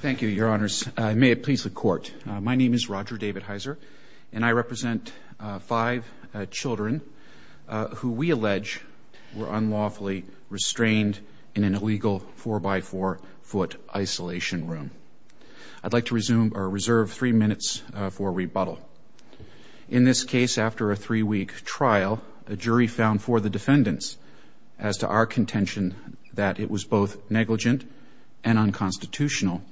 Thank you, your honors. May it please the court. My name is Roger David Heiser and I represent five children who we allege were unlawfully restrained in an illegal four-by-four foot isolation room. I'd like to resume or reserve three minutes for rebuttal. In this case, after a three-week trial, a jury found for the defendants as to our contention that it was both negligent and unconstitutional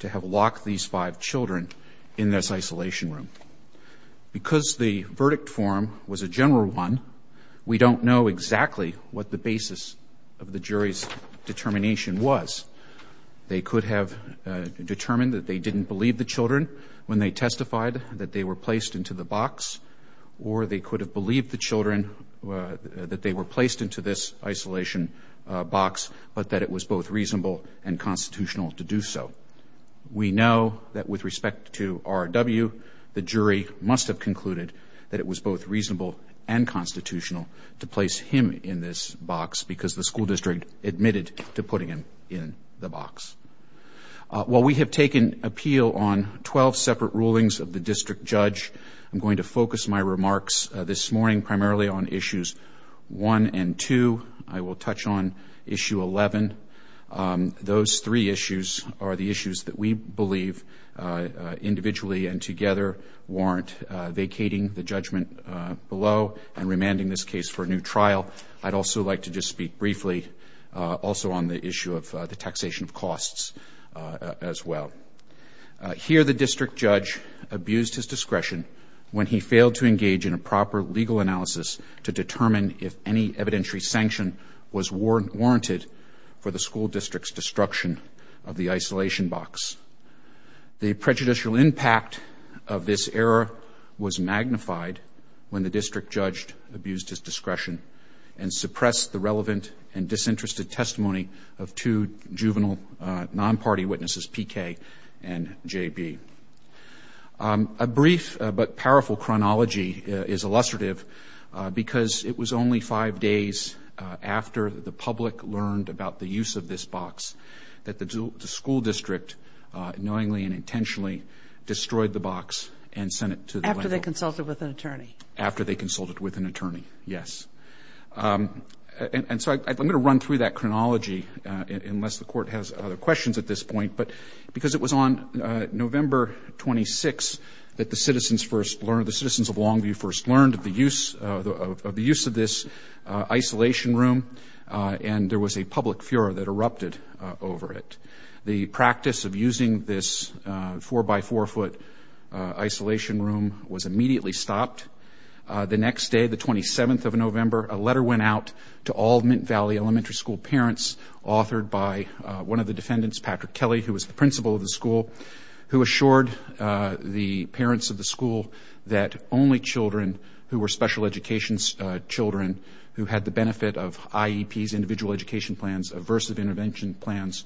to have locked these five children in this isolation room. Because the verdict form was a general one, we don't know exactly what the basis of the jury's determination was. They could have determined that they didn't believe the children when they testified, that they were placed into the box, or they could have believed the children that they were placed into this unconstitutional to do so. We know that with respect to R.W., the jury must have concluded that it was both reasonable and constitutional to place him in this box because the school district admitted to putting him in the box. While we have taken appeal on 12 separate rulings of the district judge, I'm going to focus my remarks this morning primarily on issues 1 and 2. I will touch on issue 11. Those three issues are the issues that we believe, individually and together, warrant vacating the judgment below and remanding this case for a new trial. I'd also like to just speak briefly also on the issue of the taxation of costs as well. Here, the district judge abused his discretion when he failed to engage in a proper legal analysis to determine if any evidentiary sanction was warranted for the school district's destruction of the isolation box. The prejudicial impact of this error was magnified when the district judge abused his discretion and suppressed the relevant and disinterested testimony of two juvenile non-party witnesses, PK and JB. A brief but powerful chronology is illustrative because it was only five days after the public learned about the use of this box that the school district knowingly and intentionally destroyed the box and sent it to the plaintiff. After they consulted with an attorney? After they consulted with an attorney, yes. And so I'm going to run through that chronology, unless the Court has other questions at this point, but because it was on November 26 that the citizens first learned, the citizens of Longview first learned of the use of this isolation room, and there was a public furor that erupted over it. The practice of using this four-by-four-foot isolation room was immediately stopped. The next day, the 27th of November, a letter went out to all Mint Valley Elementary School parents, authored by one of the defendants, Patrick Kelly, who was the principal of the school, who were special education children, who had the benefit of IEPs, individual education plans, aversive intervention plans,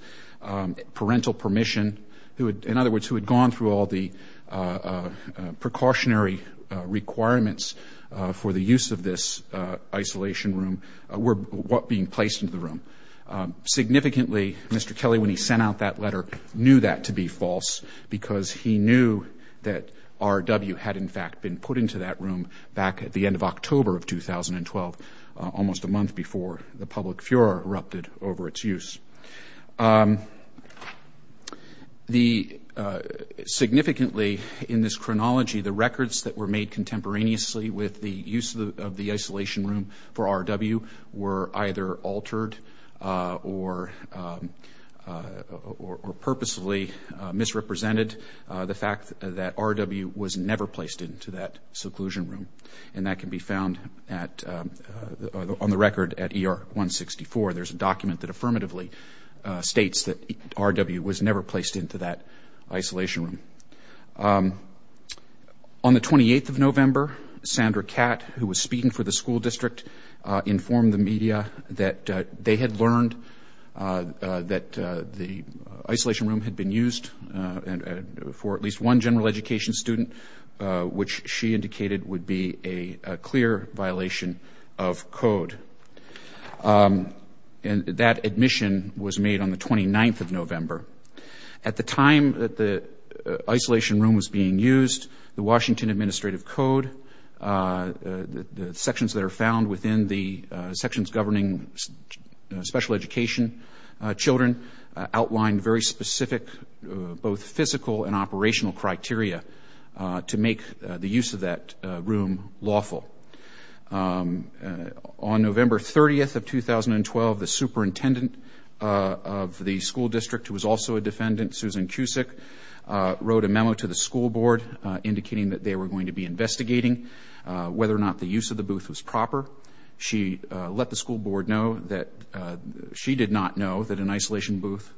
parental permission, in other words, who had gone through all the precautionary requirements for the use of this isolation room, were being placed into the room. Significantly, Mr. Kelly, when he sent out that letter, knew that to be false because he knew that RW had, in fact, been put into that room back at the end of October of 2012, almost a month before the public furor erupted over its use. Significantly, in this chronology, the records that were made contemporaneously with the use of the isolation room for RW were either altered or purposely misrepresented. The fact that RW was never placed into that seclusion room, and that can be found on the record at ER-164. There's a document that affirmatively states that RW was never placed into that isolation room. On the 28th of November, Sandra Catt, who was speaking for the school district, informed the media that they had learned that the isolation room had been used for at least one general education student, which she indicated would be a clear violation of code. And that admission was made on the 29th of November. At the time that the isolation room was being used, the Washington Administrative Code, the sections that are found within the sections governing special education children, outlined very specific both physical and operational criteria to make the use of that room lawful. On November 30th of 2012, the superintendent of the school district, who was also a defendant, Susan Cusick, wrote a memo to the school board indicating that they were going to be investigating whether or not the use of the booth was proper. She let the school board know that she did not know that an isolation booth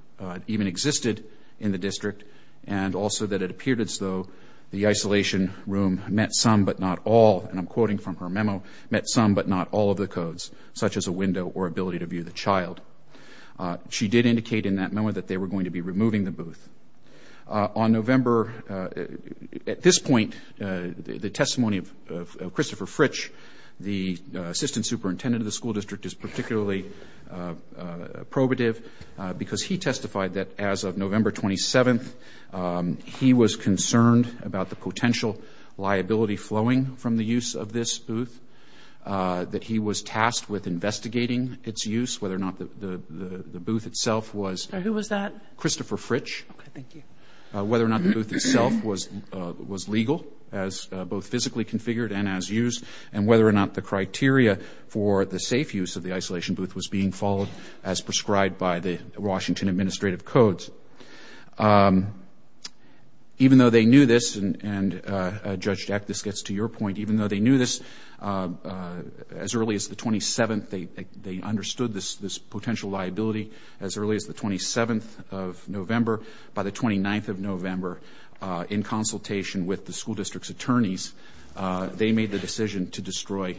even existed in the district, and also that it appeared as though the isolation room met some but not all, and I'm quoting from her memo, met some but not all of the codes, such as a window or ability to view the child. She did indicate in that memo that removing the booth. On November, at this point, the testimony of Christopher Fritsch, the assistant superintendent of the school district, is particularly probative because he testified that as of November 27th, he was concerned about the potential liability flowing from the use of this booth, that he was tasked with investigating its use, whether or not the booth itself was Who was that? Christopher Fritsch. Okay, thank you. Whether or not the booth itself was legal, as both physically configured and as used, and whether or not the criteria for the safe use of the isolation booth was being followed as prescribed by the Washington Administrative Codes. Even though they knew this, and Judge Deck, this gets to your point, even though they knew this as early as the 27th, they understood this potential liability as early as the 27th of November. By the 29th of November, in consultation with the school district's attorneys, they made the decision to destroy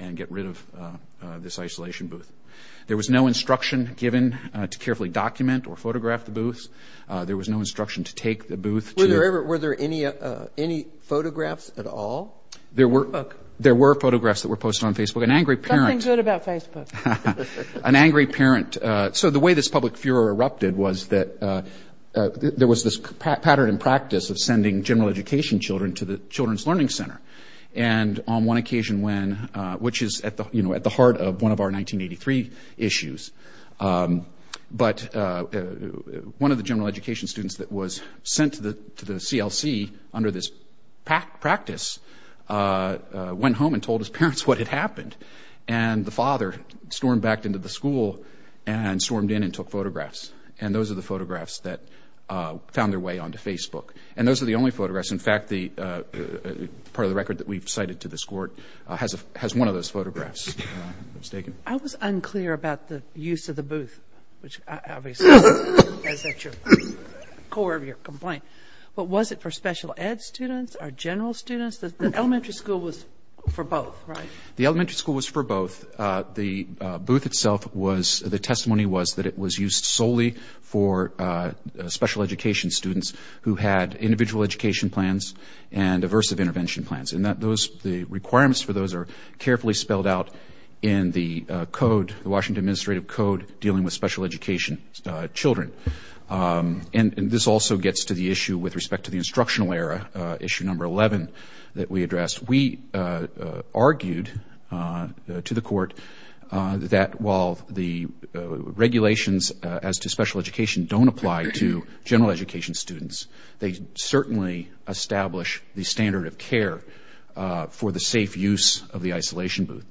and get rid of this isolation booth. There was no instruction given to carefully document or photograph the booth. There was no instruction to take the booth to Were there any photographs at all? There were photographs that were posted on Facebook. An angry parent Something good about Facebook. An angry parent. So the way this public furor erupted was that there was this pattern in practice of sending general education children to the Children's Learning Center. And on one occasion when, which is at the heart of one of our 1983 issues, but one of the general education students that was sent to the CLC under this practice went home and told his parents what had happened. And the father stormed back into the school and stormed in and took photographs. And those are the photographs that found their way onto Facebook. And those are the only photographs. In fact, the part of the record that we've cited to this court has one of those photographs that was taken. I was unclear about the use of the booth, which obviously is at the core of your complaint. But was it for special ed students or general students? The elementary school was for both, right? The elementary school was for both. The booth itself was, the testimony was that it was used solely for special education students who had individual education plans and aversive intervention plans. And that those, the requirements for those are carefully spelled out in the code, the Washington Administrative Code dealing with special education children. And this also gets to the issue with to the court that while the regulations as to special education don't apply to general education students, they certainly establish the standard of care for the safe use of the isolation booth.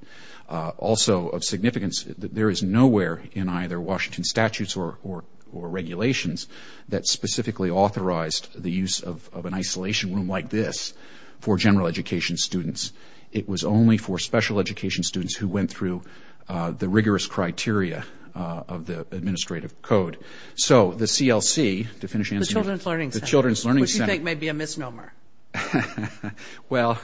Also of significance, there is nowhere in either Washington statutes or regulations that specifically authorized the use of an isolation room like this for general education students. It was only for special education students who went through the rigorous criteria of the Administrative Code. So the CLC, to finish answering... The Children's Learning Center. The Children's Learning Center. Which you think may be a misnomer. Well,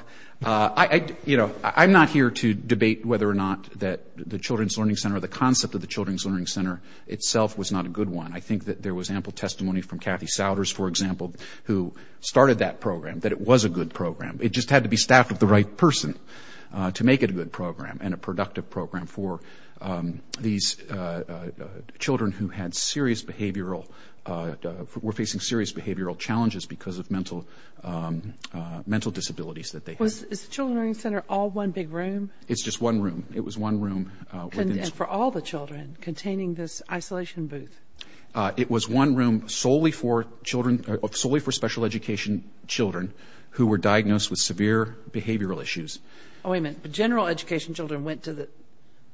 you know, I'm not here to debate whether or not that the Children's Learning Center or the concept of the Children's Learning Center itself was not a good one. I think that there was ample testimony from Kathy Souders, for example, who started that program, that it was a good program. It just had to be a person to make it a good program and a productive program for these children who had serious behavioral... were facing serious behavioral challenges because of mental disabilities that they had. Was the Children's Learning Center all one big room? It's just one room. It was one room... And for all the children containing this isolation booth? It was one room solely for children... solely for special education children who were diagnosed with severe behavioral issues. Oh, wait a minute. But general education children went to the...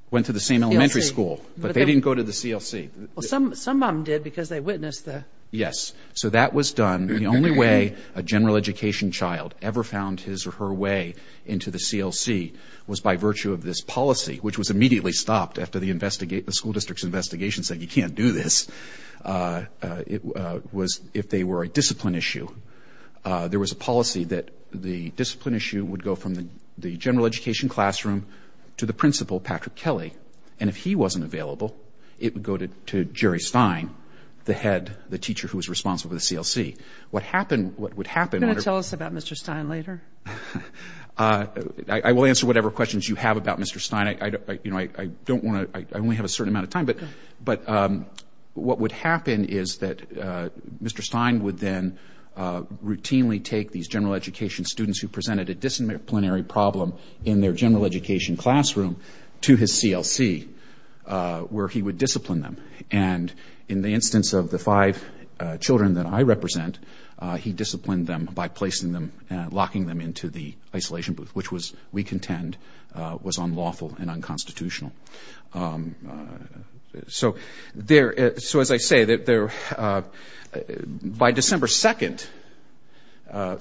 Went to the same elementary school. CLC. But they didn't go to the CLC. Well, some of them did because they witnessed the... Yes. So that was done. The only way a general education child ever found his or her way into the CLC was by virtue of this policy, which was immediately stopped after the school district's investigation said you can't do this. It was... if they were a discipline issue, there was a policy that the discipline issue would go from the general education classroom to the principal, Patrick Kelly. And if he wasn't available, it would go to Jerry Stein, the head, the teacher who was responsible for the CLC. What happened... What would happen... Are you going to tell us about Mr. Stein later? I will answer whatever questions you have about Mr. Stein. I don't want to... I only have a certain amount of time, but what would happen is that Mr. Stein would then routinely take these general education students who presented a disciplinary problem in their general education classroom to his CLC, where he would discipline them. And in the instance of the five children that I represent, he disciplined them by placing them and locking them into the isolation booth, which was, we contend, was unlawful and unconstitutional. So there... So as I say, that there... By December 2nd,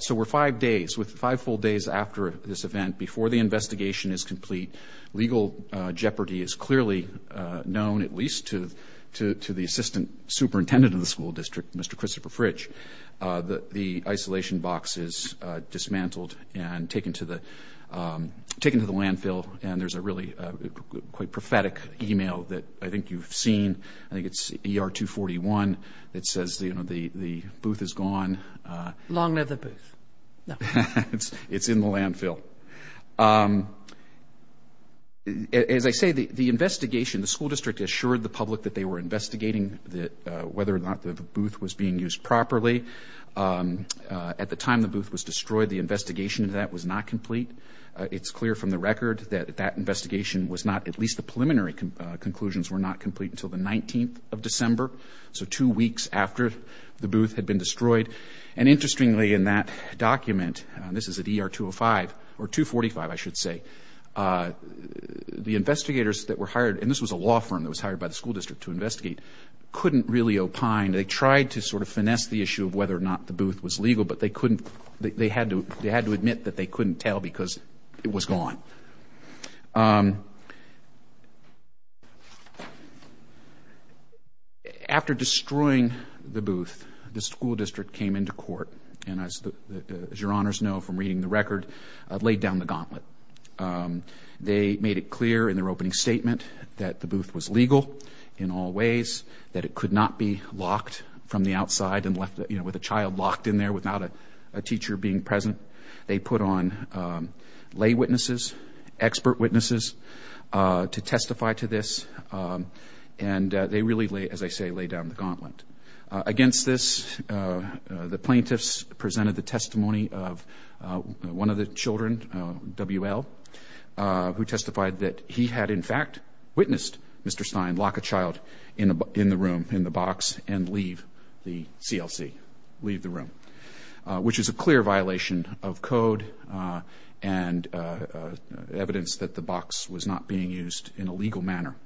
so we're five days, with five full days after this event, before the investigation is complete, legal jeopardy is clearly known, at least to the assistant superintendent of the school district, Mr. Christopher Fritch, that the isolation box is dismantled and taken to the... taken to the landfill, and there's a really quite prophetic email that I think you've seen. I think it's ER 241 that says, you know, the booth is gone. Long live the booth. It's in the landfill. As I say, the investigation, the school district assured the public that they were investigating whether or not the booth was being used properly. At the time the booth was destroyed, the investigation into that was not complete. It's clear from the record that that investigation was not, at least the preliminary conclusions, were not complete until the 19th of December, so two weeks after the booth had been destroyed. And interestingly, in that document, this is at ER 205, or 245 I should say, the investigators that were hired, and this was a law firm that was hired by the school district to investigate, couldn't really opine. They tried to sort of finesse the issue of whether or not the booth was legal, but they couldn't, they had to, they had to tell because it was gone. After destroying the booth, the school district came into court and, as your honors know from reading the record, laid down the gauntlet. They made it clear in their opening statement that the booth was legal in all ways, that it could not be locked from the outside and left, you know, with a child locked in there without a teacher being present. They put on lay witnesses, expert witnesses to testify to this, and they really, as I say, lay down the gauntlet. Against this, the plaintiffs presented the testimony of one of the children, WL, who testified that he had in fact witnessed Mr. Stein lock a child in the room, in the room, which is a clear violation of code and evidence that the box was not being used in a legal manner.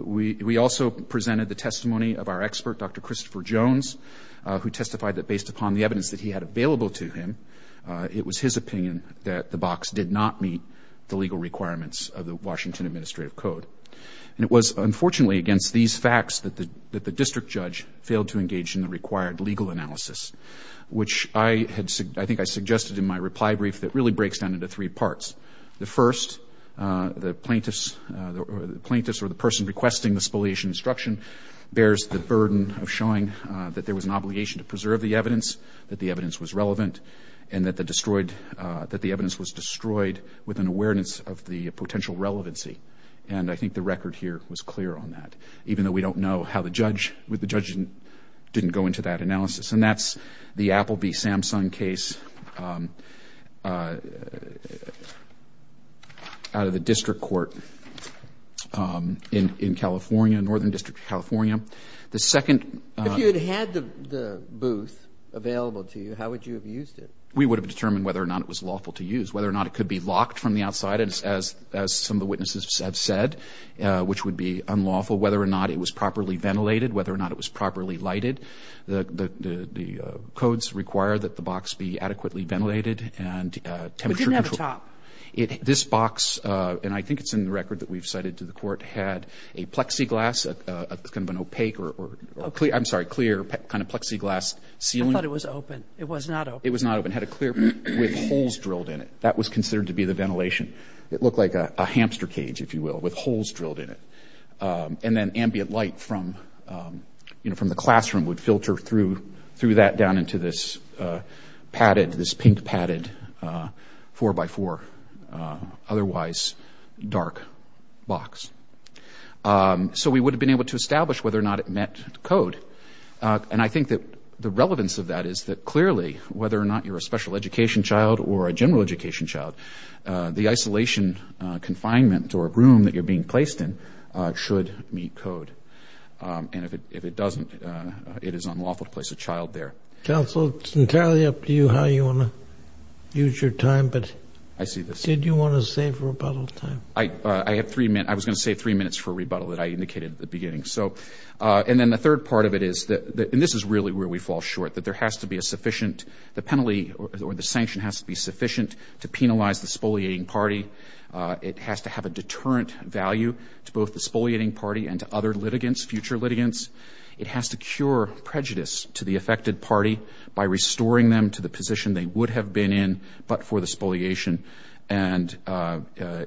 We also presented the testimony of our expert, Dr. Christopher Jones, who testified that based upon the evidence that he had available to him, it was his opinion that the box did not meet the legal requirements of the Washington Administrative Code, and it was unfortunately against these facts that the district judge failed to make an analysis, which I think I suggested in my reply brief that really breaks down into three parts. The first, the plaintiffs or the person requesting the spoliation instruction bears the burden of showing that there was an obligation to preserve the evidence, that the evidence was relevant, and that the evidence was destroyed with an awareness of the potential relevancy. And I think the record here was clear on that, even though we don't know how the judge, the judge didn't go into that analysis. And that's the Appleby-Samsung case out of the district court in California, Northern District of California. The second — If you had had the booth available to you, how would you have used it? We would have determined whether or not it was lawful to use, whether or not it could be locked from the outside, as some of the witnesses have said, which would be unlawful, whether or not it was properly ventilated, whether or not it was properly lighted. The codes require that the box be adequately ventilated But it didn't have a top. This box, and I think it's in the record that we've cited to the court, had a plexiglass — it's kind of an opaque or clear — I'm sorry, clear kind of plexiglass ceiling. I thought it was open. It was not open. It was not open. It had a clear — with holes drilled in it. That was considered drilled in it. And then ambient light from the classroom would filter through that down into this padded, this pink padded, four-by-four, otherwise dark box. So we would have been able to establish whether or not it met code. And I think that the relevance of that is that clearly, whether or not you're a special education child or a general education child, the isolation confinement or room that you're being placed in should meet code. And if it doesn't, it is unlawful to place a child there. Counsel, it's entirely up to you how you want to use your time, but did you want to save rebuttal time? I had three minutes — I was going to save three minutes for rebuttal that I indicated at the beginning. So — and then the third part of it is that — and this is really where we fall short — that there has to be a sufficient — the penalty or the sanction has to be sufficient to penalize the spoliating party. It has to have a deterrent value to both the spoliating party and to other litigants, future litigants. It has to cure prejudice to the affected party by restoring them to the position they would have been in but for the spoliation. And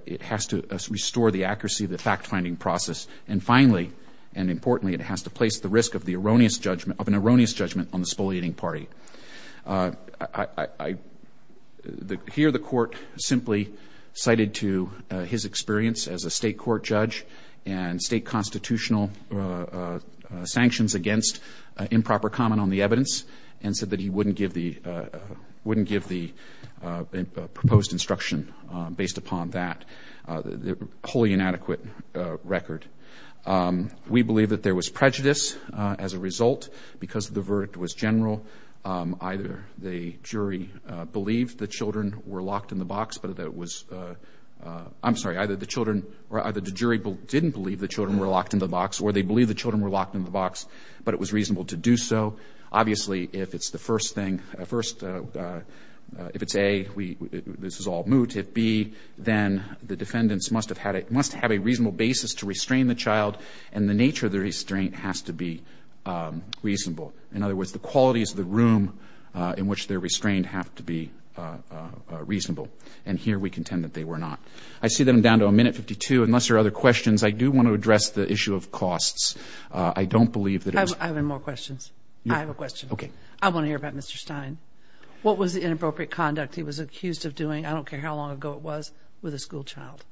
it has to restore the accuracy of the fact-finding process. And finally, and importantly, it has to place the risk of the erroneous judgment — of an erroneous judgment on the spoliating party. I — here the Court simply cited to his experience as a state court judge and state constitutional sanctions against improper comment on the evidence and said that he wouldn't give the — wouldn't give the proposed instruction based upon that wholly inadequate record. We believe that there was prejudice as a result because the verdict was general. Either the jury believed the children were locked in the box, but that it was — I'm sorry, either the children — or either the jury didn't believe the children were locked in the box or they believed the children were locked in the box, but it was reasonable to do so. Obviously, if it's the first thing — first — if it's A, we — this is all moot. And if it's B, then the defendants must have had a — must have a reasonable basis to restrain the child, and the nature of the restraint has to be reasonable. In other words, the qualities of the room in which they're restrained have to be reasonable. And here we contend that they were not. I see that I'm down to a minute 52. Unless there are other questions, I do want to address the issue of costs. I don't believe that it was — I have more questions. Yeah. I have a question. Okay. I want to hear about Mr. Stein. What was the inappropriate conduct he was accused of doing? I don't care how long ago it was, with a school child.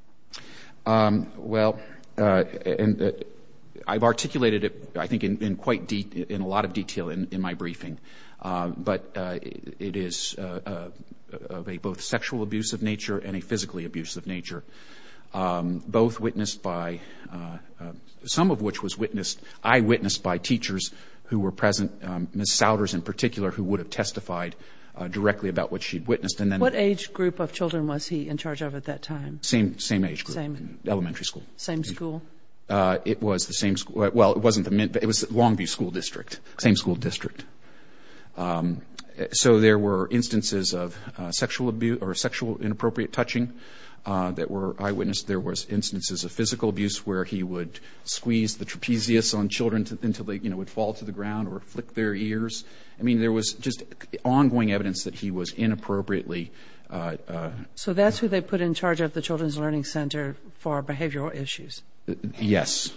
Well, I've articulated it, I think, in quite — in a lot of detail in my briefing. But it is of a both sexual abuse of nature and a physically abusive nature, both witnessed by — some of which was witnessed, I witnessed, by teachers who were present, Ms. Souders in particular, who would have testified directly about what she'd witnessed. And then — What age group of children was he in charge of at that time? Same age group. Same — Elementary school. Same school? It was the same — well, it wasn't the — it was Longview School District. Same school district. So there were instances of sexual abuse — or sexual inappropriate touching that were eyewitnessed. There was instances of physical abuse where he would squeeze the trapezius on children until they, you know, would fall to the ground or flick their ears. I mean, there was just ongoing evidence that he was inappropriately — So that's who they put in charge of the Children's Learning Center for behavioral issues? Yes.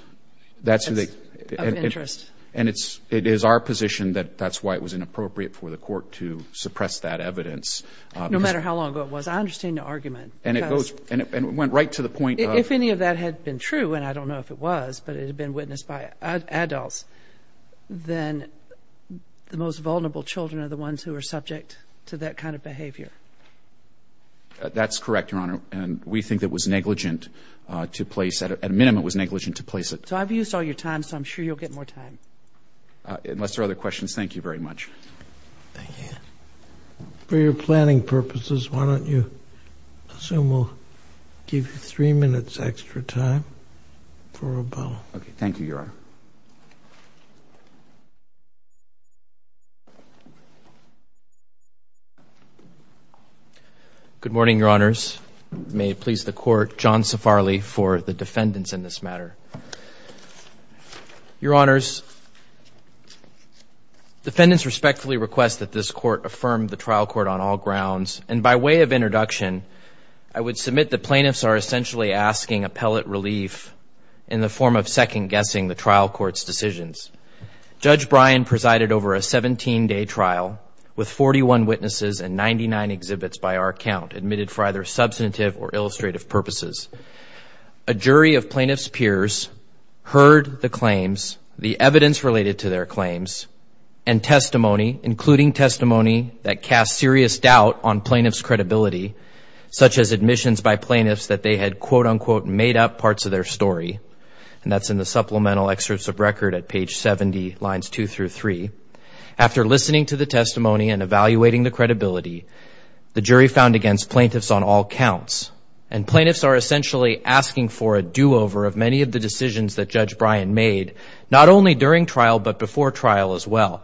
That's who they — Of interest. And it's — it is our position that that's why it was inappropriate for the court to suppress that evidence. No matter how long ago it was. I understand your argument. Because — And it goes — and it went right to the point of — If any of that had been true, and I don't know if it was, but it had been witnessed by adults, then the most vulnerable children are the ones who are subject to that kind of behavior. That's correct, Your Honor. And we think that it was negligent to place — at a minimum, it was negligent to place it — So I've used all your time, so I'm sure you'll get more time. Unless there are other questions. Thank you very much. Thank you. For your planning purposes, why don't you assume we'll give you three minutes extra time for rebuttal. Okay. Thank you, Your Honor. Good morning, Your Honors. May it please the Court, John Safarley for the defendants in this matter. Your Honors, defendants respectfully request that this Court affirm the trial court on all grounds. And by way of introduction, I would submit that plaintiffs are essentially asking appellate relief in the form of second-guessing the trial court's decisions. Judge Bryan presided over a 17-day trial with 41 witnesses and 99 exhibits by our count admitted for either substantive or illustrative purposes. A jury of plaintiffs' peers heard the claims, the evidence related to their claims, and testimony, including testimony that cast serious doubt on plaintiffs' credibility, such as parts of their story. And that's in the supplemental excerpts of record at page 70, lines 2 through 3. After listening to the testimony and evaluating the credibility, the jury found against plaintiffs on all counts. And plaintiffs are essentially asking for a do-over of many of the decisions that Judge Bryan made, not only during trial, but before trial as well.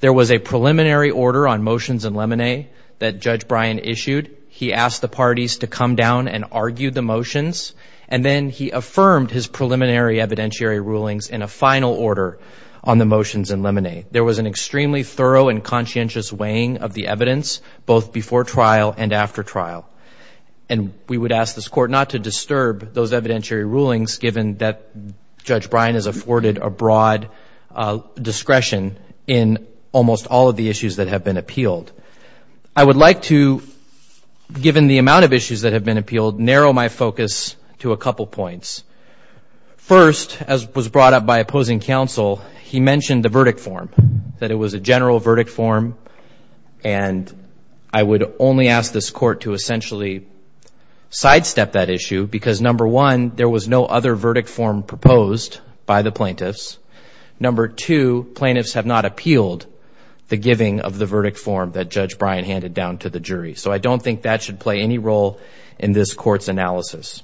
There was a preliminary order on motions and lemonade that Judge Bryan issued. He asked the parties to come down and argue the motions. And then he affirmed his preliminary evidentiary rulings in a final order on the motions and lemonade. There was an extremely thorough and conscientious weighing of the evidence, both before trial and after trial. And we would ask this Court not to disturb those evidentiary rulings, given that Judge Bryan has afforded a broad discretion in almost all of the issues that have been appealed. I would like to, given the amount of issues that have been appealed, narrow my focus to a couple points. First, as was brought up by opposing counsel, he mentioned the verdict form, that it was a general verdict form. And I would only ask this Court to essentially sidestep that issue, because, number one, there was no other verdict form proposed by the plaintiffs. Number two, plaintiffs have not appealed the giving of the verdict form that Judge Bryan handed down to the jury. So I don't think that should play any role in this Court's analysis.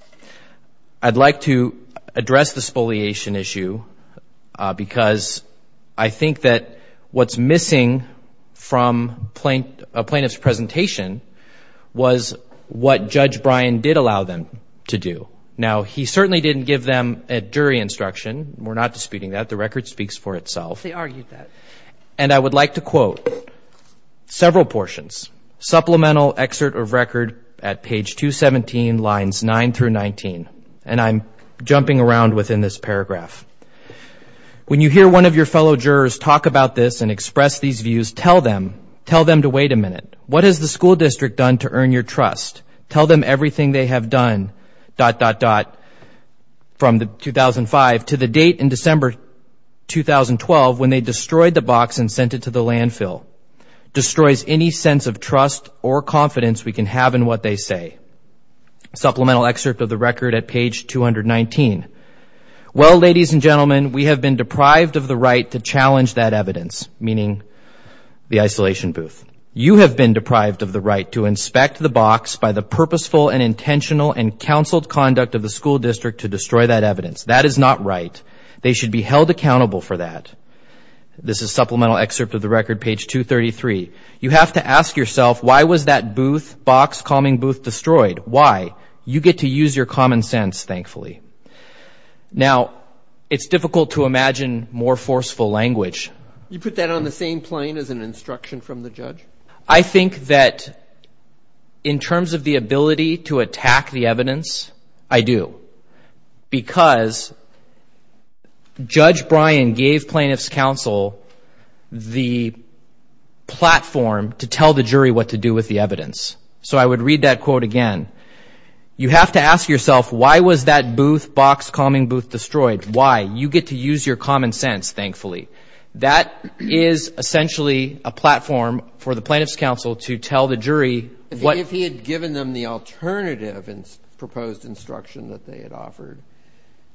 I'd like to address the spoliation issue, because I think that what's missing from a plaintiff's presentation was what Judge Bryan did allow them to do. Now, he certainly didn't give them a jury instruction. We're not disputing that. The record speaks for itself. They argued that. And I would like to quote several portions. Supplemental excerpt of record at page 217, lines 9 through 19. And I'm jumping around within this paragraph. When you hear one of your fellow jurors talk about this and express these views, tell them, tell them to wait a minute. What has the school district done to earn your trust? Tell them everything they have done, dot, dot, dot, from 2005 to the date in December 2012, when they destroyed the box and sent it to the landfill. Destroys any sense of trust or confidence we can have in what they say. Supplemental excerpt of the record at page 219. Well, ladies and gentlemen, we have been deprived of the right to challenge that evidence, meaning the isolation booth. You have been deprived of the right to inspect the box by the purposeful and intentional and counseled conduct of the school district to destroy that evidence. That is not right. They should be held accountable for that. This is supplemental excerpt of the record, page 233. You have to ask yourself, why was that booth, box calming booth destroyed? Why? You get to use your common sense, thankfully. Now, it's difficult to imagine more forceful language. You put that on the same plane as an instruction from the judge? I think that in terms of the ability to attack the evidence, I do. Because Judge Bryan gave plaintiff's counsel the platform to tell the jury what to do with the evidence. So I would read that quote again. You have to ask yourself, why was that booth, box calming booth destroyed? Why? You get to use your common sense, thankfully. That is essentially a platform for the plaintiff's counsel to tell the jury what. If he had given them the alternative and proposed instruction that they had offered,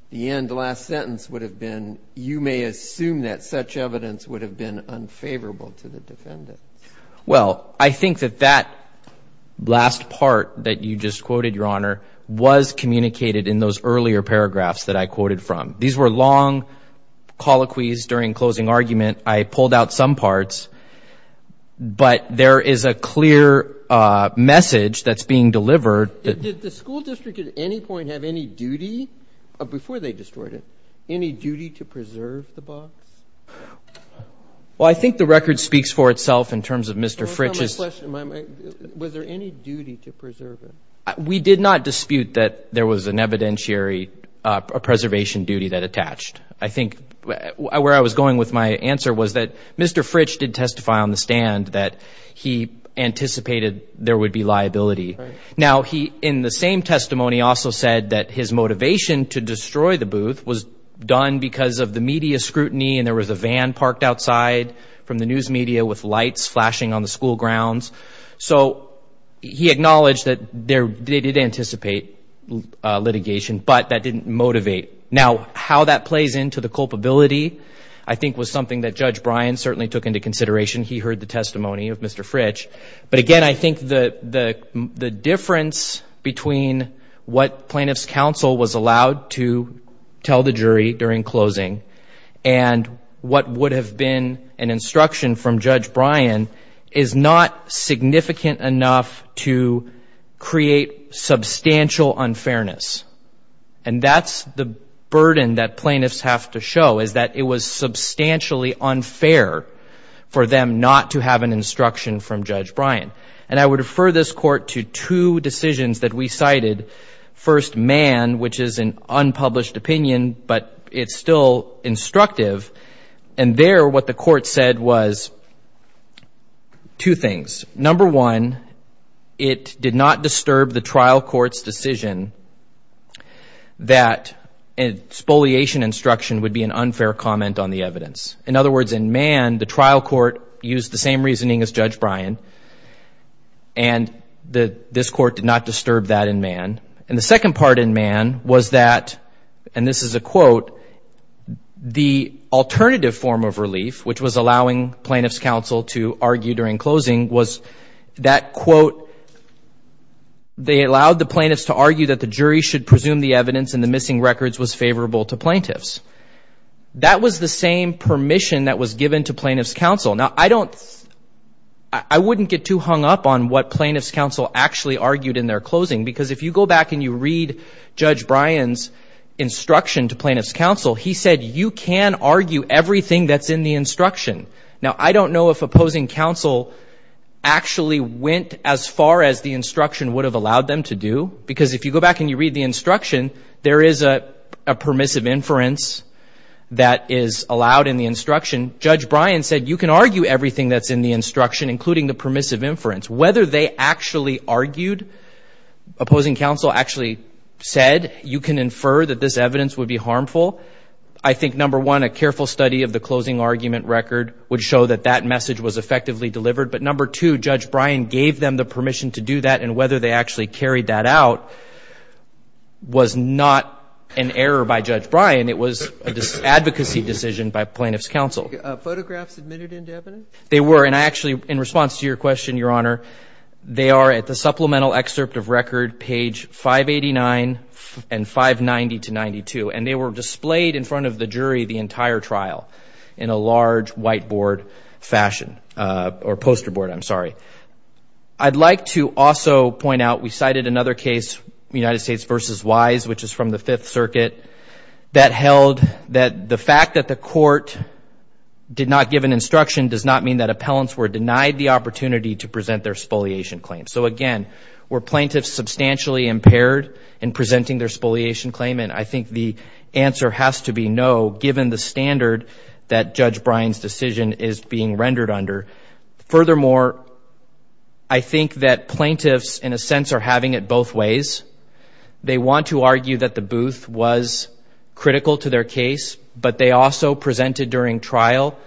the end last sentence would have been, you may assume that such evidence would have been unfavorable to the defendant. Well, I think that that last part that you just quoted, Your Honor, was communicated in those earlier paragraphs that I quoted from. These were long colloquies during closing argument. I pulled out some parts, but there is a clear message that's being delivered. Did the school district at any point have any duty, before they destroyed it, any duty to preserve the box? Well, I think the record speaks for itself in terms of Mr. Fritch's. Was there any duty to preserve it? We did not dispute that there was an evidentiary preservation duty that attached. I think where I was going with my answer was that Mr. Fritch did testify on the stand that he anticipated there would be liability. Now, he, in the same testimony, also said that his motivation to destroy the booth was done because of the media scrutiny and there was a van parked outside from the news media with lights flashing on the school grounds. So, he acknowledged that they did anticipate litigation, but that didn't motivate. Now, how that plays into the culpability, I think, was something that Judge Bryan certainly took into consideration. He heard the testimony of Mr. Fritch. But again, I think the difference between what plaintiff's counsel was allowed to tell the jury during closing and what would have been an instruction from Judge Bryan is not significant enough to create substantial unfairness. And that's the burden that plaintiffs have to show is that it was substantially unfair for them not to have an instruction from Judge Bryan. And I would refer this Court to two decisions that we cited. First, Mann, which is an unpublished opinion, but it's still instructive. And there, what the Court said was two things. Number one, it did not disturb the trial court's decision that a spoliation instruction would be an unfair comment on the evidence. In other words, in Mann, the trial court used the same reasoning as Judge Bryan And the second part in Mann was that, and this is a quote, the alternative form of relief, which was allowing plaintiff's counsel to argue during closing, was that, quote, they allowed the plaintiffs to argue that the jury should presume the evidence and the missing records was favorable to plaintiffs. That was the same permission that was given to plaintiff's counsel. Now, I don't, I wouldn't get too hung up on what plaintiff's counsel actually argued in their closing, because if you go back and you read Judge Bryan's instruction to plaintiff's counsel, he said you can argue everything that's in the instruction. Now, I don't know if opposing counsel actually went as far as the instruction would have allowed them to do, because if you go back and you read the instruction, there is a permissive inference that is allowed in the instruction. Judge Bryan said you can argue everything that's in the instruction, including the permissive inference. Whether they actually argued, opposing counsel actually said you can infer that this evidence would be harmful, I think, number one, a careful study of the closing argument record would show that that message was effectively delivered. But number two, Judge Bryan gave them the permission to do that, and whether they actually carried that out was not an error by Judge Bryan. It was an advocacy decision by plaintiff's counsel. Photographs admitted into evidence? They were, and I actually, in response to your question, Your Honor, they are at the supplemental excerpt of record, page 589 and 590 to 92, and they were displayed in front of the jury the entire trial in a large whiteboard fashion, or poster board, I'm sorry. I'd like to also point out, we cited another case, United States versus Wise, which is from the Fifth Circuit, that held that the fact that the court did not give an instruction does not mean that appellants were denied the opportunity to present their spoliation claim. So again, were plaintiffs substantially impaired in presenting their spoliation claim? And I think the answer has to be no, given the standard that Judge Bryan's decision is being rendered under. Furthermore, I think that plaintiffs, in a sense, are having it both ways. They want to argue that the Booth was critical to their case, but they also presented during trial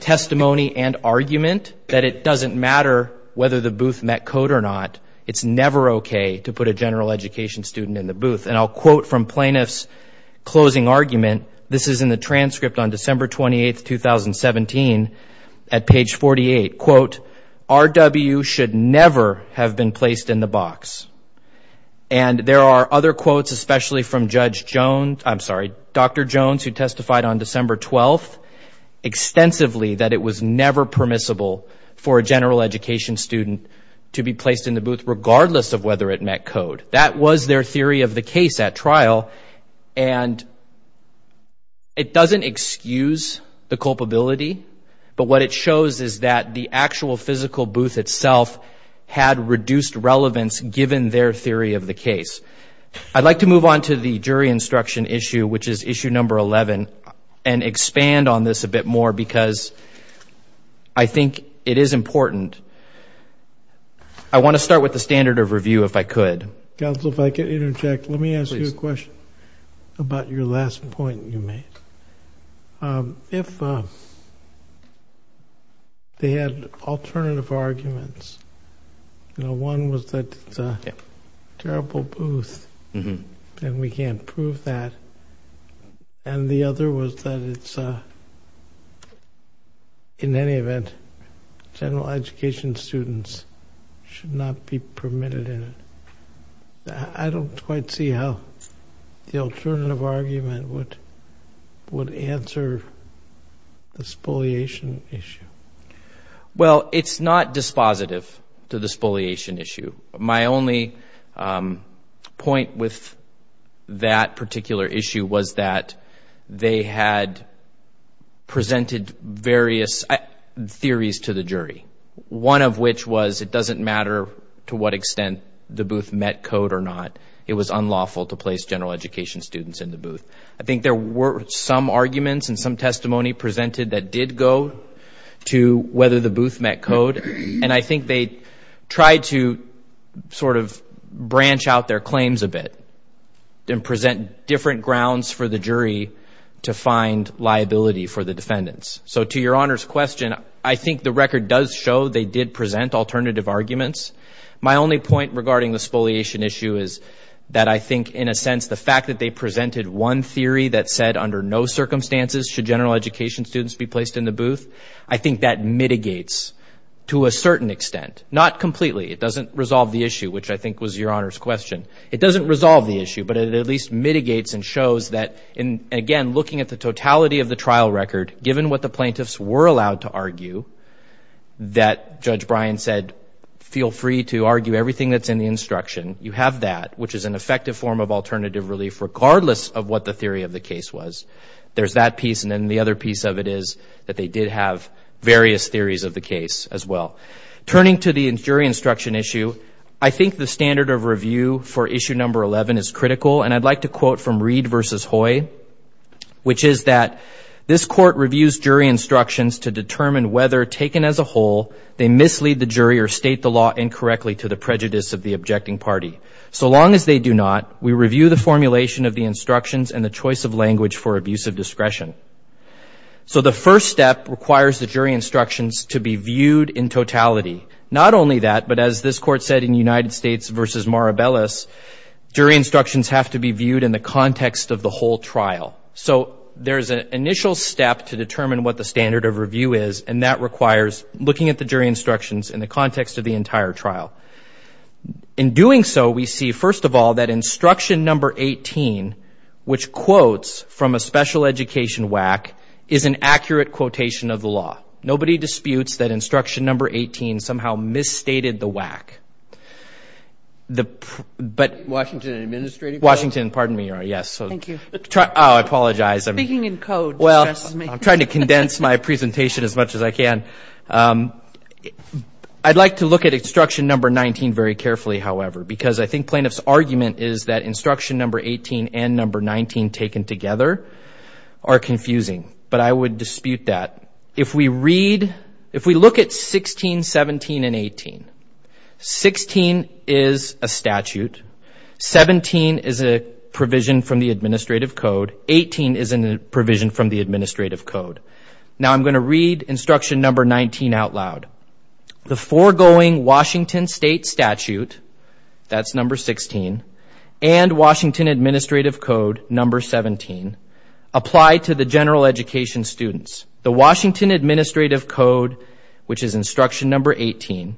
testimony and argument that it doesn't matter whether the Booth met code or not. It's never okay to put a general education student in the Booth. And I'll quote from plaintiff's closing argument. This is in the transcript on December 28, 2017, at page 48. Quote, RW should never have been placed in the box. And there are other quotes, especially from Judge Jones, I'm sorry, Dr. Jones, who testified on December 12, extensively that it was never permissible for a general education student to be placed in the Booth, regardless of whether it met code. That was their theory of the case at trial. And it doesn't excuse the culpability, but what it shows is that the actual physical Booth itself had reduced relevance, given their theory of the case. I'd like to move on to the jury instruction issue, which is issue number 11, and expand on this a bit more, because I think it is important. I want to start with the standard of review, if I could. Counsel, if I could interject, let me ask you a question about your last point you made. If they had alternative arguments, you know, one was that it's a terrible Booth, and we can't prove that, and the other was that it's a, in any event, general education students should not be permitted in it. I don't quite see how the alternative argument would answer the spoliation issue. Well, it's not dispositive to the spoliation issue. My only point with that particular issue was that they had presented various theories to the jury, one of which was it doesn't matter to what extent the Booth met code or not, it was unlawful to place general education students in the Booth. I think there were some arguments and some testimony presented that did go to whether the Booth met code, and I think they tried to sort of branch out their claims a bit and present different grounds for the jury to find liability for the defendants. So to your Honor's question, I think the record does show they did present alternative arguments. My only point regarding the spoliation issue is that I think, in a sense, the fact that they presented one theory that said under no circumstances should general education students be placed in the Booth, I think that mitigates to a certain extent, not completely. It doesn't resolve the issue, which I think was your Honor's question. It doesn't resolve the issue, but it at least mitigates and shows that, and again, looking at the totality of the trial record, given what the plaintiffs were allowed to argue, that Judge Bryan said, feel free to argue everything that's in the instruction. You have that, which is an effective form of alternative relief, regardless of what the theory of the case was. There's that piece, and then the other piece of it is that they did have various theories of the case as well. Turning to the jury instruction issue, I think the standard of review for issue number 11 is critical, and I'd like to quote from Reed versus Hoy, which is that, this court reviews jury instructions to determine whether, taken as a whole, they mislead the jury or state the law incorrectly to the prejudice of the objecting party. So long as they do not, we review the formulation of the instructions and the choice of language for abuse of discretion. So the first step requires the jury instructions to be viewed in totality. Not only that, but as this court said in United States versus Maribelis, jury instructions have to be viewed in the context of the whole trial. So there's an initial step to determine what the standard of review is, and that requires looking at the jury instructions in the context of the entire trial. In doing so, we see, first of all, that instruction number 18, which quotes from a special education WAC, is an accurate quotation of the law. Nobody disputes that instruction number 18 somehow misstated the WAC. The, but... Washington Administrative Court? Washington, pardon me, Your Honor, yes. Thank you. Oh, I apologize. Speaking in code stresses me. Well, I'm trying to condense my presentation as much as I can. I'd like to look at instruction number 19 very carefully, however, because I think plaintiff's argument is that instruction number 18 and number 19, taken together, are confusing, but I would dispute that. If we read, if we look at 16, 17, and 18, 16 is a statute, 17 is a provision from the Administrative Code, 18 is a provision from the Administrative Code. Now, I'm going to read instruction number 19 out loud. The foregoing Washington state statute, that's number 16, and Washington Administrative Code, number 17, apply to the general education students. The Washington Administrative Code, which is instruction number 18,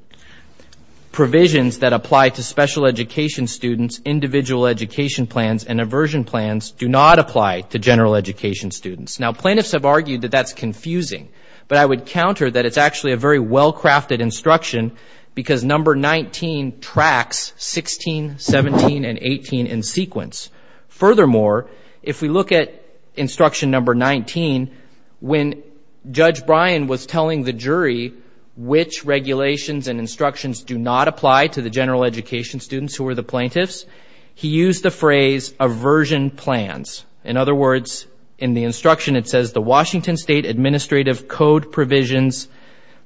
provisions that apply to special education students, individual education plans, and aversion plans, do not apply to general education students. Now, plaintiffs have argued that that's confusing, but I would counter that it's actually a very well-crafted instruction because number 19 tracks 16, 17, and 18 in sequence. Furthermore, if we look at instruction number 19, when Judge Bryan was telling the jury which regulations and instructions do not apply to the general education students who are the plaintiffs, he used the phrase aversion plans. In other words, in the instruction, it says the Washington State Administrative Code provisions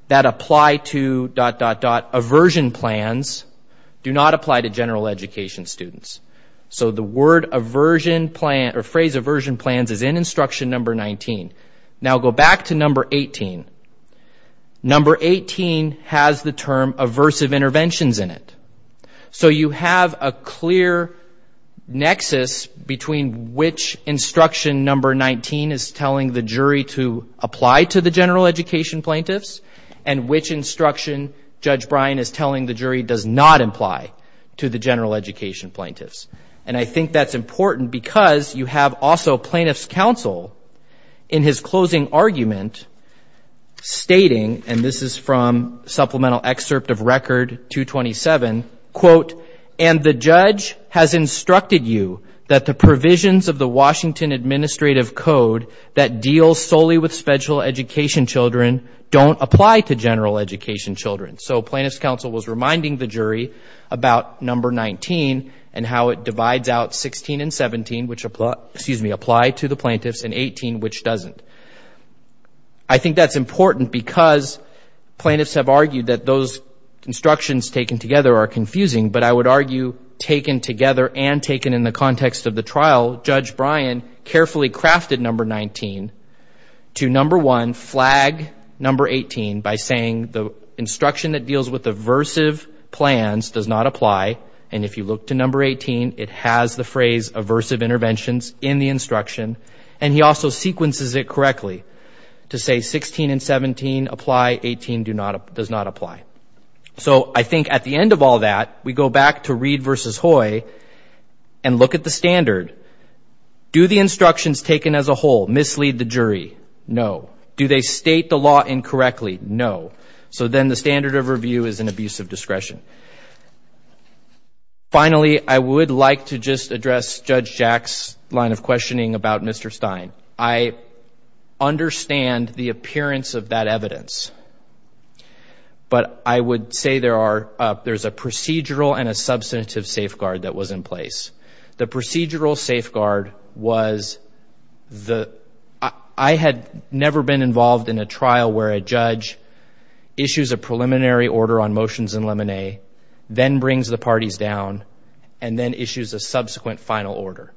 that apply to dot, dot, dot aversion plans do not apply to general education students. So the word aversion plan or phrase aversion plans is in instruction number 19. Now, go back to number 18. Number 18 has the term aversive interventions in it. So you have a clear nexus between which instruction number 19 is telling the jury to apply to the general education plaintiffs and which instruction Judge Bryan is telling the jury does not apply to the general education plaintiffs. And I think that's important because you have also plaintiff's counsel in his closing argument stating, and this is from supplemental excerpt of record 227, quote, and the judge has instructed you that the provisions of the Washington Administrative Code that deals solely with special education children don't apply to general education children. So plaintiff's counsel was reminding the jury about number 19 and how it divides out 16 and 17, which apply, excuse me, apply to the plaintiffs and 18, which doesn't. I think that's important because plaintiffs have argued that those instructions taken together are confusing, but I would argue taken together and taken in the context of the trial, Judge Bryan carefully crafted number 19 to number one, flag number 18 by saying the instruction that deals with aversive plans does not apply. And if you look to number 18, it has the phrase aversive interventions in the instruction, and he also sequences it correctly to say 16 and 17 apply, 18 does not apply. So I think at the end of all that, we go back to Reed versus Hoy and look at the standard. Do the instructions taken as a whole mislead the jury? No. Do they state the law incorrectly? And finally, I would like to just address Judge Jack's line of questioning about Mr. Stein. I understand the appearance of that evidence, but I would say there are there's a procedural and a substantive safeguard that was in place. The procedural safeguard was the I had never been involved in a trial where a judge issues a preliminary order on motions in lemonade, then brings the parties down and then issues a subsequent final order.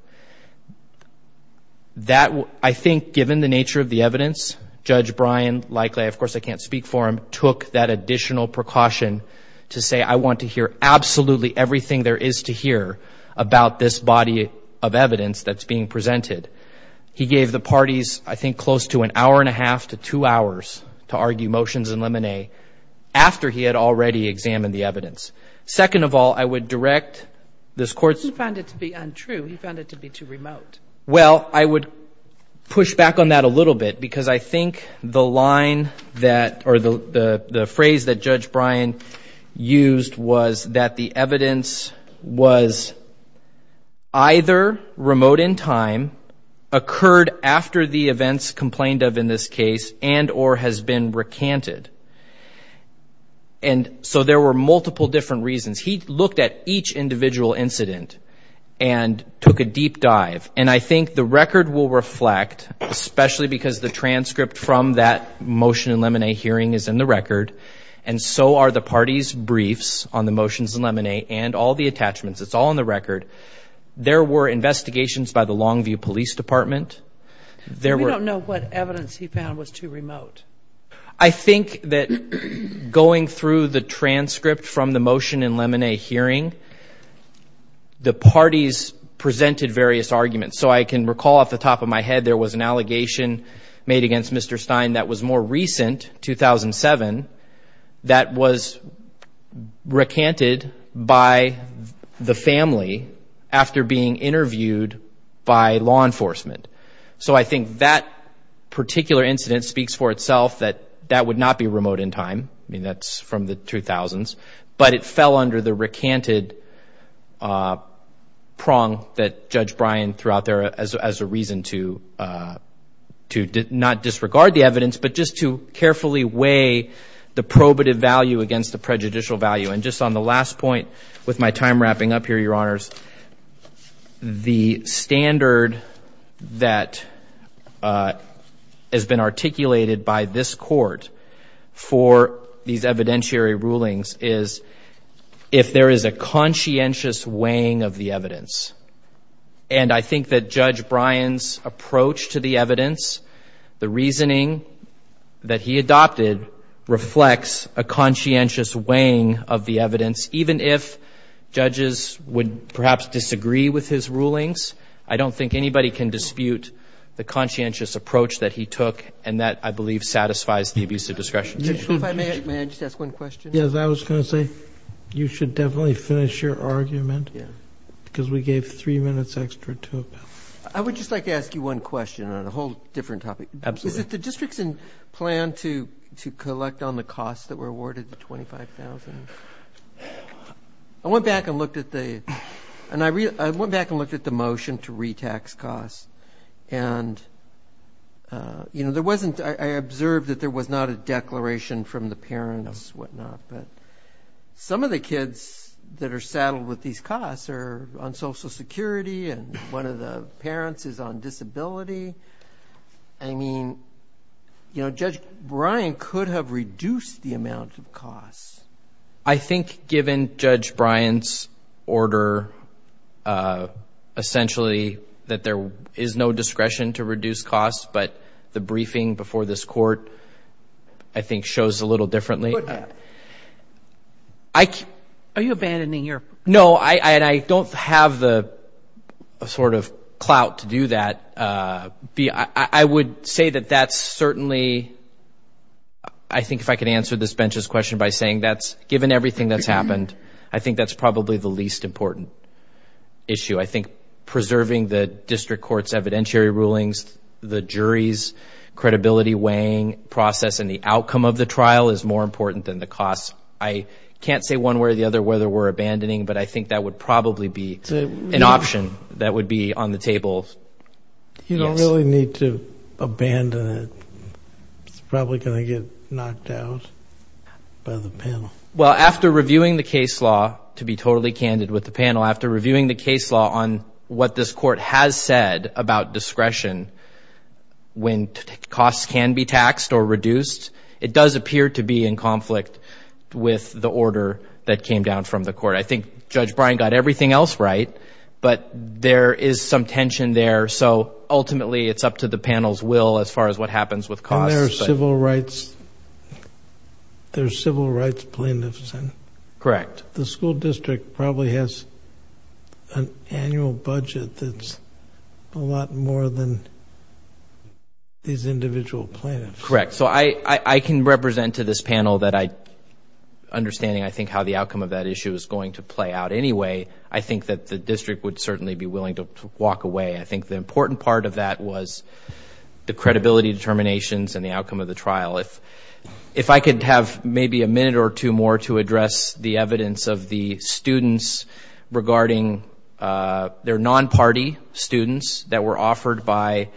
That I think, given the nature of the evidence, Judge Bryan, likely, of course, I can't speak for him, took that additional precaution to say, I want to hear absolutely everything there is to hear about this body of evidence that's being presented. He gave the parties, I think, close to an hour and a half to two hours to argue motions in lemonade after he had already examined the evidence. Second of all, I would direct this court. He found it to be untrue. He found it to be too remote. Well, I would push back on that a little bit, because I think the line that or the phrase that Judge Bryan used was that the evidence was. Either remote in time occurred after the events complained of in this case and or has been recanted. And so there were multiple different reasons. He looked at each individual incident and took a deep dive. And I think the record will reflect, especially because the transcript from that motion in lemonade hearing is in the record. And so are the party's briefs on the motions in lemonade and all the attachments. It's all in the record. There were investigations by the Longview Police Department. There were no what evidence he found was too remote. I think that going through the transcript from the motion in lemonade hearing. The parties presented various arguments, so I can recall off the top of my head, there was an allegation made against Mr. Stein that was more recent 2007 that was recanted by the family. After being interviewed by law enforcement. So I think that particular incident speaks for itself, that that would not be remote in time. I mean, that's from the 2000s, but it fell under the recanted prong that Judge Bryan threw out there as a reason to to not disregard the evidence, but just to carefully weigh the probative value against the prejudicial value. And just on the last point, with my time wrapping up here, Your Honors, the standard that has been articulated by this court for these evidentiary rulings is if there is a conscientious weighing of the evidence. And I think that Judge Bryan's approach to the evidence, the reasoning that he adopted reflects a conscientious weighing of the evidence, even if judges would perhaps disagree with his rulings. I don't think anybody can dispute the conscientious approach that he took. And that, I believe, satisfies the abusive discretion. May I just ask one question? Yes, I was going to say you should definitely finish your argument. Yeah, because we gave three minutes extra to it. I would just like to ask you one question on a whole different topic. Is it the district's plan to to collect on the costs that were awarded? The $25,000. I went back and looked at the and I went back and looked at the motion to retax costs and. You know, there wasn't I observed that there was not a declaration from the parents, whatnot, but some of the kids that are saddled with these costs are on Social Security and one of the parents is on disability. I mean, you know, Judge Bryan could have reduced the amount of costs. I think given Judge Bryan's order, essentially that there is no discretion to reduce costs, but the briefing before this court, I think, shows a little differently. I. Are you abandoning your. No, I don't have the sort of clout to do that. I would say that that's certainly. I think if I could answer this bench's question by saying that's given everything that's happened, I think that's probably the least important. Issue, I think, preserving the district court's evidentiary rulings, the jury's credibility weighing process and the outcome of the trial is more important than the cost. I can't say one way or the other whether we're abandoning, but I think that would probably be an option that would be on the table. You don't really need to abandon it. It's probably going to get knocked out by the panel. Well, after reviewing the case law, to be totally candid with the panel, after reviewing the case law on what this court has said about discretion, when costs can be taxed or reduced, it does appear to be in conflict with the order that came down from the court. I think Judge Bryan got everything else right. But there is some tension there. So ultimately, it's up to the panel's will as far as what happens with cost. There are civil rights plaintiffs, and the school district probably has an annual budget that's a lot more than these individual plaintiffs. Correct. So I can represent to this panel that I, understanding, I think, how the outcome of that issue is going to play out anyway. I think that the district would certainly be willing to walk away. I think the important part of that was the credibility determinations and the outcome of the trial. If I could have maybe a minute or two more to address the evidence of the students regarding their non-party students that were offered by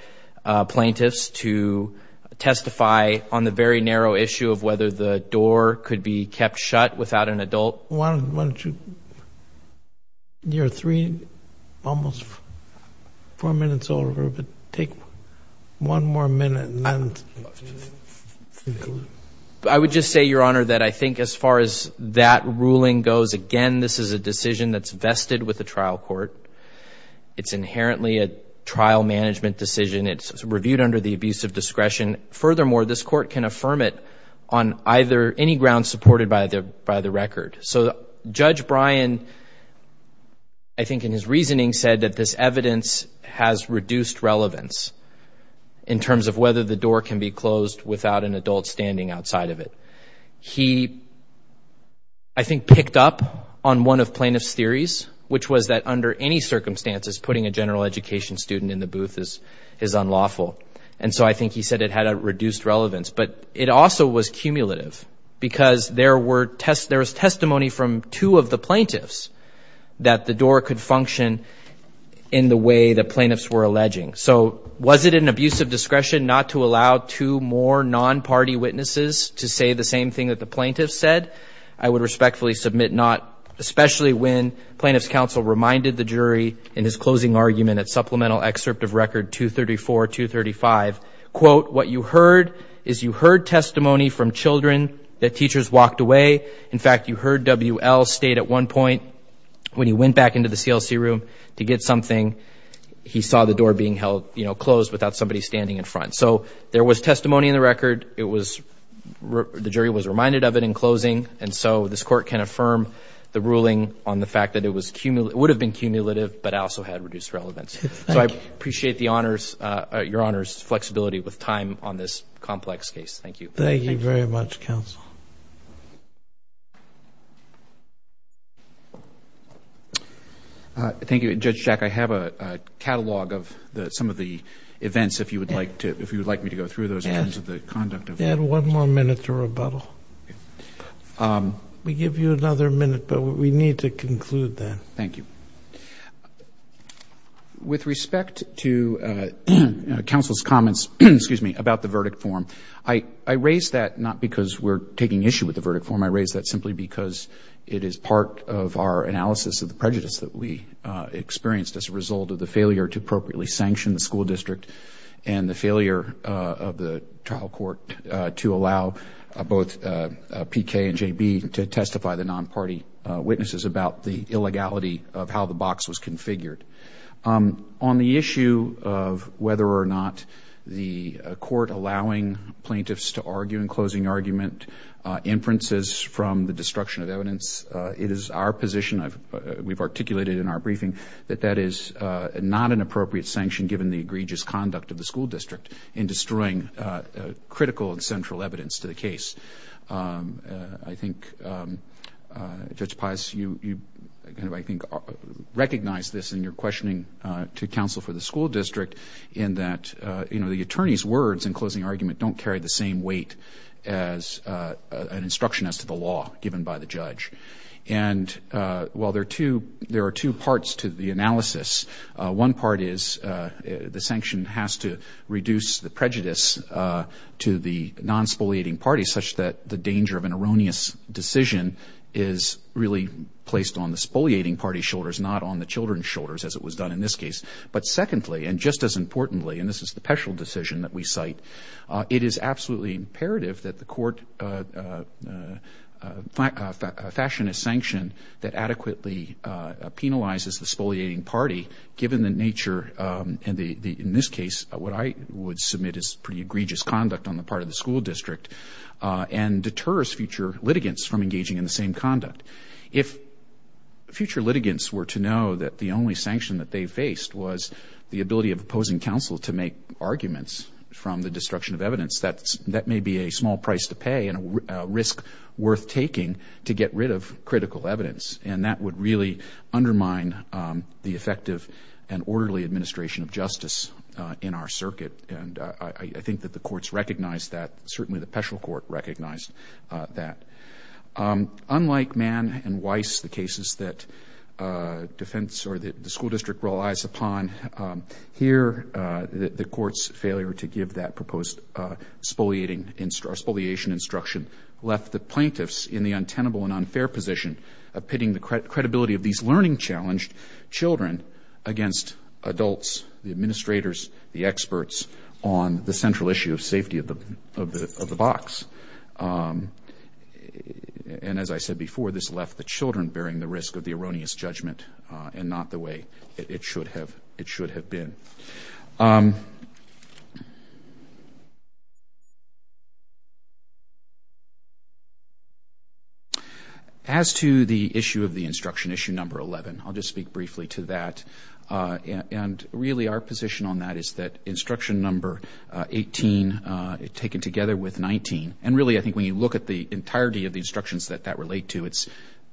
plaintiffs to testify on the very narrow issue of whether the door could be kept shut without an adult. Why don't you, you're three, almost four minutes over, but take one more minute. I would just say, Your Honor, that I think as far as that ruling goes, again, this is a decision that's vested with the trial court. It's inherently a trial management decision. It's reviewed under the abuse of discretion. Furthermore, this court can affirm it on either any ground supported by the record. So Judge Bryan, I think in his reasoning, said that this evidence has reduced relevance in terms of whether the door can be closed without an adult standing outside of it. He, I think, picked up on one of plaintiff's theories, which was that under any circumstances, putting a general education student in the booth is unlawful. And so I think he said it had a reduced relevance, but it also was cumulative because there was testimony from two of the plaintiffs that the door could function in the way the plaintiffs were alleging. So was it an abuse of discretion not to allow two more non-party witnesses to say the same thing that the plaintiffs said? I would respectfully submit not, especially when plaintiff's counsel reminded the jury in his closing argument at Supplemental Excerpt of Record 234-235, quote, what you heard is you heard testimony from children that teachers walked away. In fact, you heard W.L. state at one point when he went back into the CLC room to get something, he saw the door being held, you know, closed without somebody standing in front. So there was testimony in the record. It was, the jury was reminded of it in closing. And so this court can affirm the ruling on the fact that it was cumulative, it would have been cumulative, but also had reduced relevance. So I appreciate the honors, your honors flexibility with time on this complex case. Thank you. Thank you very much, counsel. Thank you, Judge Jack. I have a catalog of some of the events if you would like to, if you would like me to go through those in terms of the conduct of. Add one more minute to rebuttal. We give you another minute, but we need to conclude then. Thank you. With respect to counsel's comments, excuse me, about the verdict form, I raised that not because we're taking issue with the verdict form. I raised that simply because it is part of our analysis of the prejudice that we experienced as a result of the failure to appropriately sanction the school district and the failure of the trial court to allow both PK and JB to testify the non-party witnesses about the illegality of how the box was configured. On the issue of whether or not the court allowing plaintiffs to argue in closing argument inferences from the destruction of evidence, it is our position, we've articulated in our briefing, that that is not an appropriate sanction given the egregious conduct of the school district in destroying critical and central evidence to the case. I think Judge Pius, you recognize this in your questioning to counsel for the school district in that the attorney's words in closing argument don't carry the same weight as an instruction as to the law given by the judge. And while there are two parts to the analysis, one part is the sanction has to reduce the prejudice to the non-spoliating party such that the danger of an erroneous decision is really placed on the spoliating party's shoulders, not on the children's shoulders as it was done in this case. But secondly, and just as importantly, and this is the Petrel decision that we cite, it is absolutely imperative that the court fashion a sanction that adequately penalizes the spoliating party given the nature, in this case, what I would submit is pretty egregious conduct on the part of the school district and deters future litigants from engaging in the same conduct. If future litigants were to know that the only sanction that they faced was the ability of opposing counsel to make arguments from the destruction of evidence, that may be a small price to pay and a risk worth taking to get rid of critical evidence. And that would really undermine the effective and orderly administration of justice in our circuit. And I think that the courts recognize that, certainly the Petrel court recognized that. Unlike Mann and Weiss, the cases that defense or the school district relies upon, here the court's failure to give that proposed spoliating, spoliation instruction left the plaintiffs in the untenable and unfair position of pitting the credibility of these learning challenged children against adults, the administrators, the experts on the central issue of safety of the box. And as I said before, this left the children bearing the risk of the erroneous judgment and not the way it should have been. As to the issue of the instruction, issue number 11, I'll just speak briefly to that. And really our position on that is that instruction number 18, taken together with 19, and really I think when you look at the entirety of the instructions that that relate to, it's,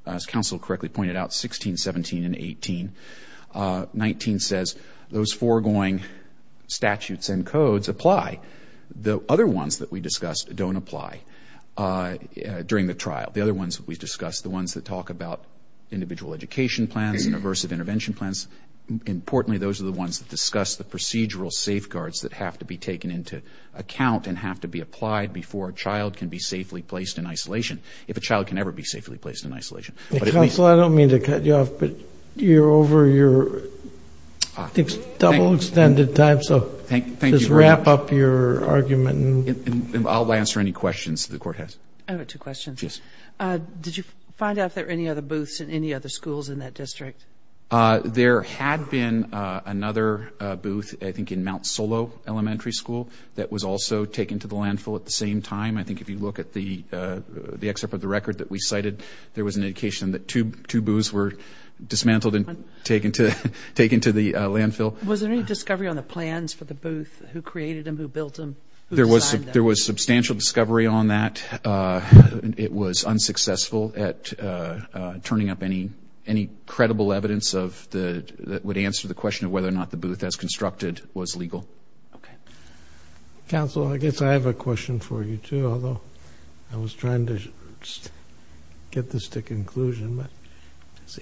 as counsel correctly pointed out, 16, 17, and 18. 19 says those foregoing statutes and codes apply. The other ones that we discussed don't apply during the trial. The other ones that we discussed, the ones that talk about individual education plans and aversive intervention plans, importantly, those are the ones that discuss the procedural safeguards that have to be taken into account and have to be applied before a child can be safely placed in isolation, if a child can ever be safely placed in isolation. Counsel, I don't mean to cut you off, but you're over your double extended time, so just wrap up your argument. And I'll answer any questions the court has. I have two questions. Yes. Did you find out if there were any other booths in any other schools in that district? There had been another booth, I think in Mount Solo Elementary School, that was also taken to the landfill at the same time. I think if you look at the excerpt of the record that we cited, there was an indication that two booths were dismantled and taken to the landfill. Was there any discovery on the plans for the booth? Who created them? Who built them? There was substantial discovery on that. It was unsuccessful at turning up any credible evidence that would answer the question of whether or not the booth, as constructed, was legal. Counsel, I guess I have a question for you, too, although I was trying to get this to conclusion.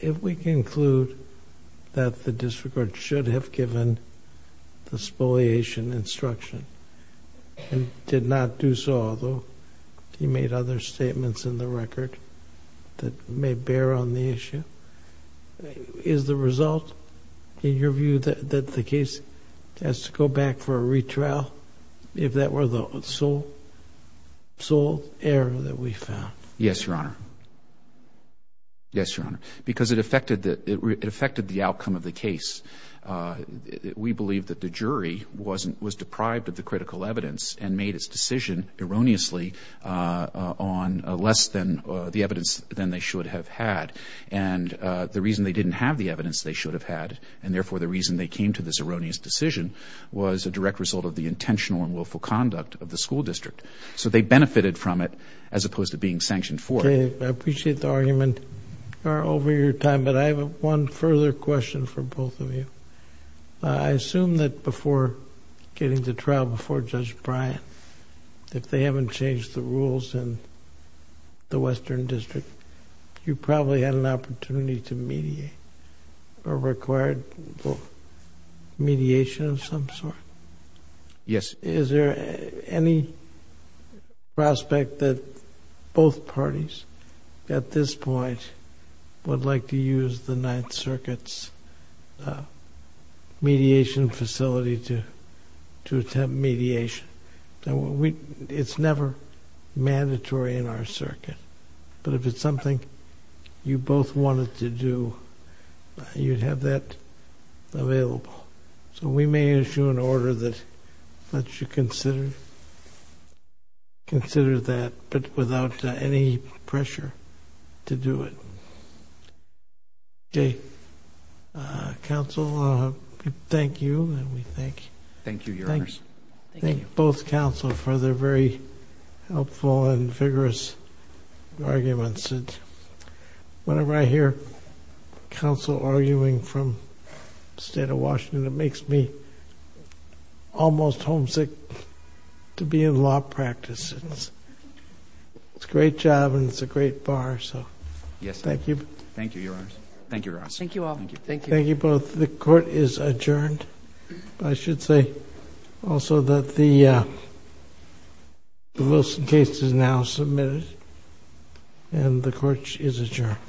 If we conclude that the district court should have given the spoliation instruction and did not do so, although he made other statements in the record that may bear on the issue, is the result, in your view, that the case has to go back for a retrial, if that were the sole error that we found? Yes, Your Honor. Yes, Your Honor, because it affected the outcome of the case. We believe that the jury was deprived of the critical evidence and made its decision erroneously on less than the evidence than they should have had. And the reason they didn't have the evidence they should have had, and therefore the reason they came to this erroneous decision, was a direct result of the intentional and willful conduct of the school district. So they benefited from it, as opposed to being sanctioned for it. I appreciate the argument. Your Honor, over your time, but I have one further question for both of you. I assume that before getting to trial, before Judge Bryant, if they haven't changed the rules in the Western District, you probably had an opportunity to mediate or required mediation of some sort. Yes. Is there any prospect that both parties, at this point, would like to use the Ninth Circuit's mediation facility to attempt mediation? It's never mandatory in our circuit, but if it's something you both wanted to do, you'd have that available. So we may issue an order that lets you consider that, but without any pressure to do it. Okay. Counsel, thank you. And we thank both counsel for their very helpful and vigorous arguments. Whenever I hear counsel arguing from the state of Washington, it makes me almost homesick to be in law practice. It's a great job and it's a great bar. So, thank you. Thank you, Your Honor. Thank you, Ross. Thank you all. Thank you. Thank you both. The court is adjourned. I should say also that the Wilson case is now submitted and the court is adjourned.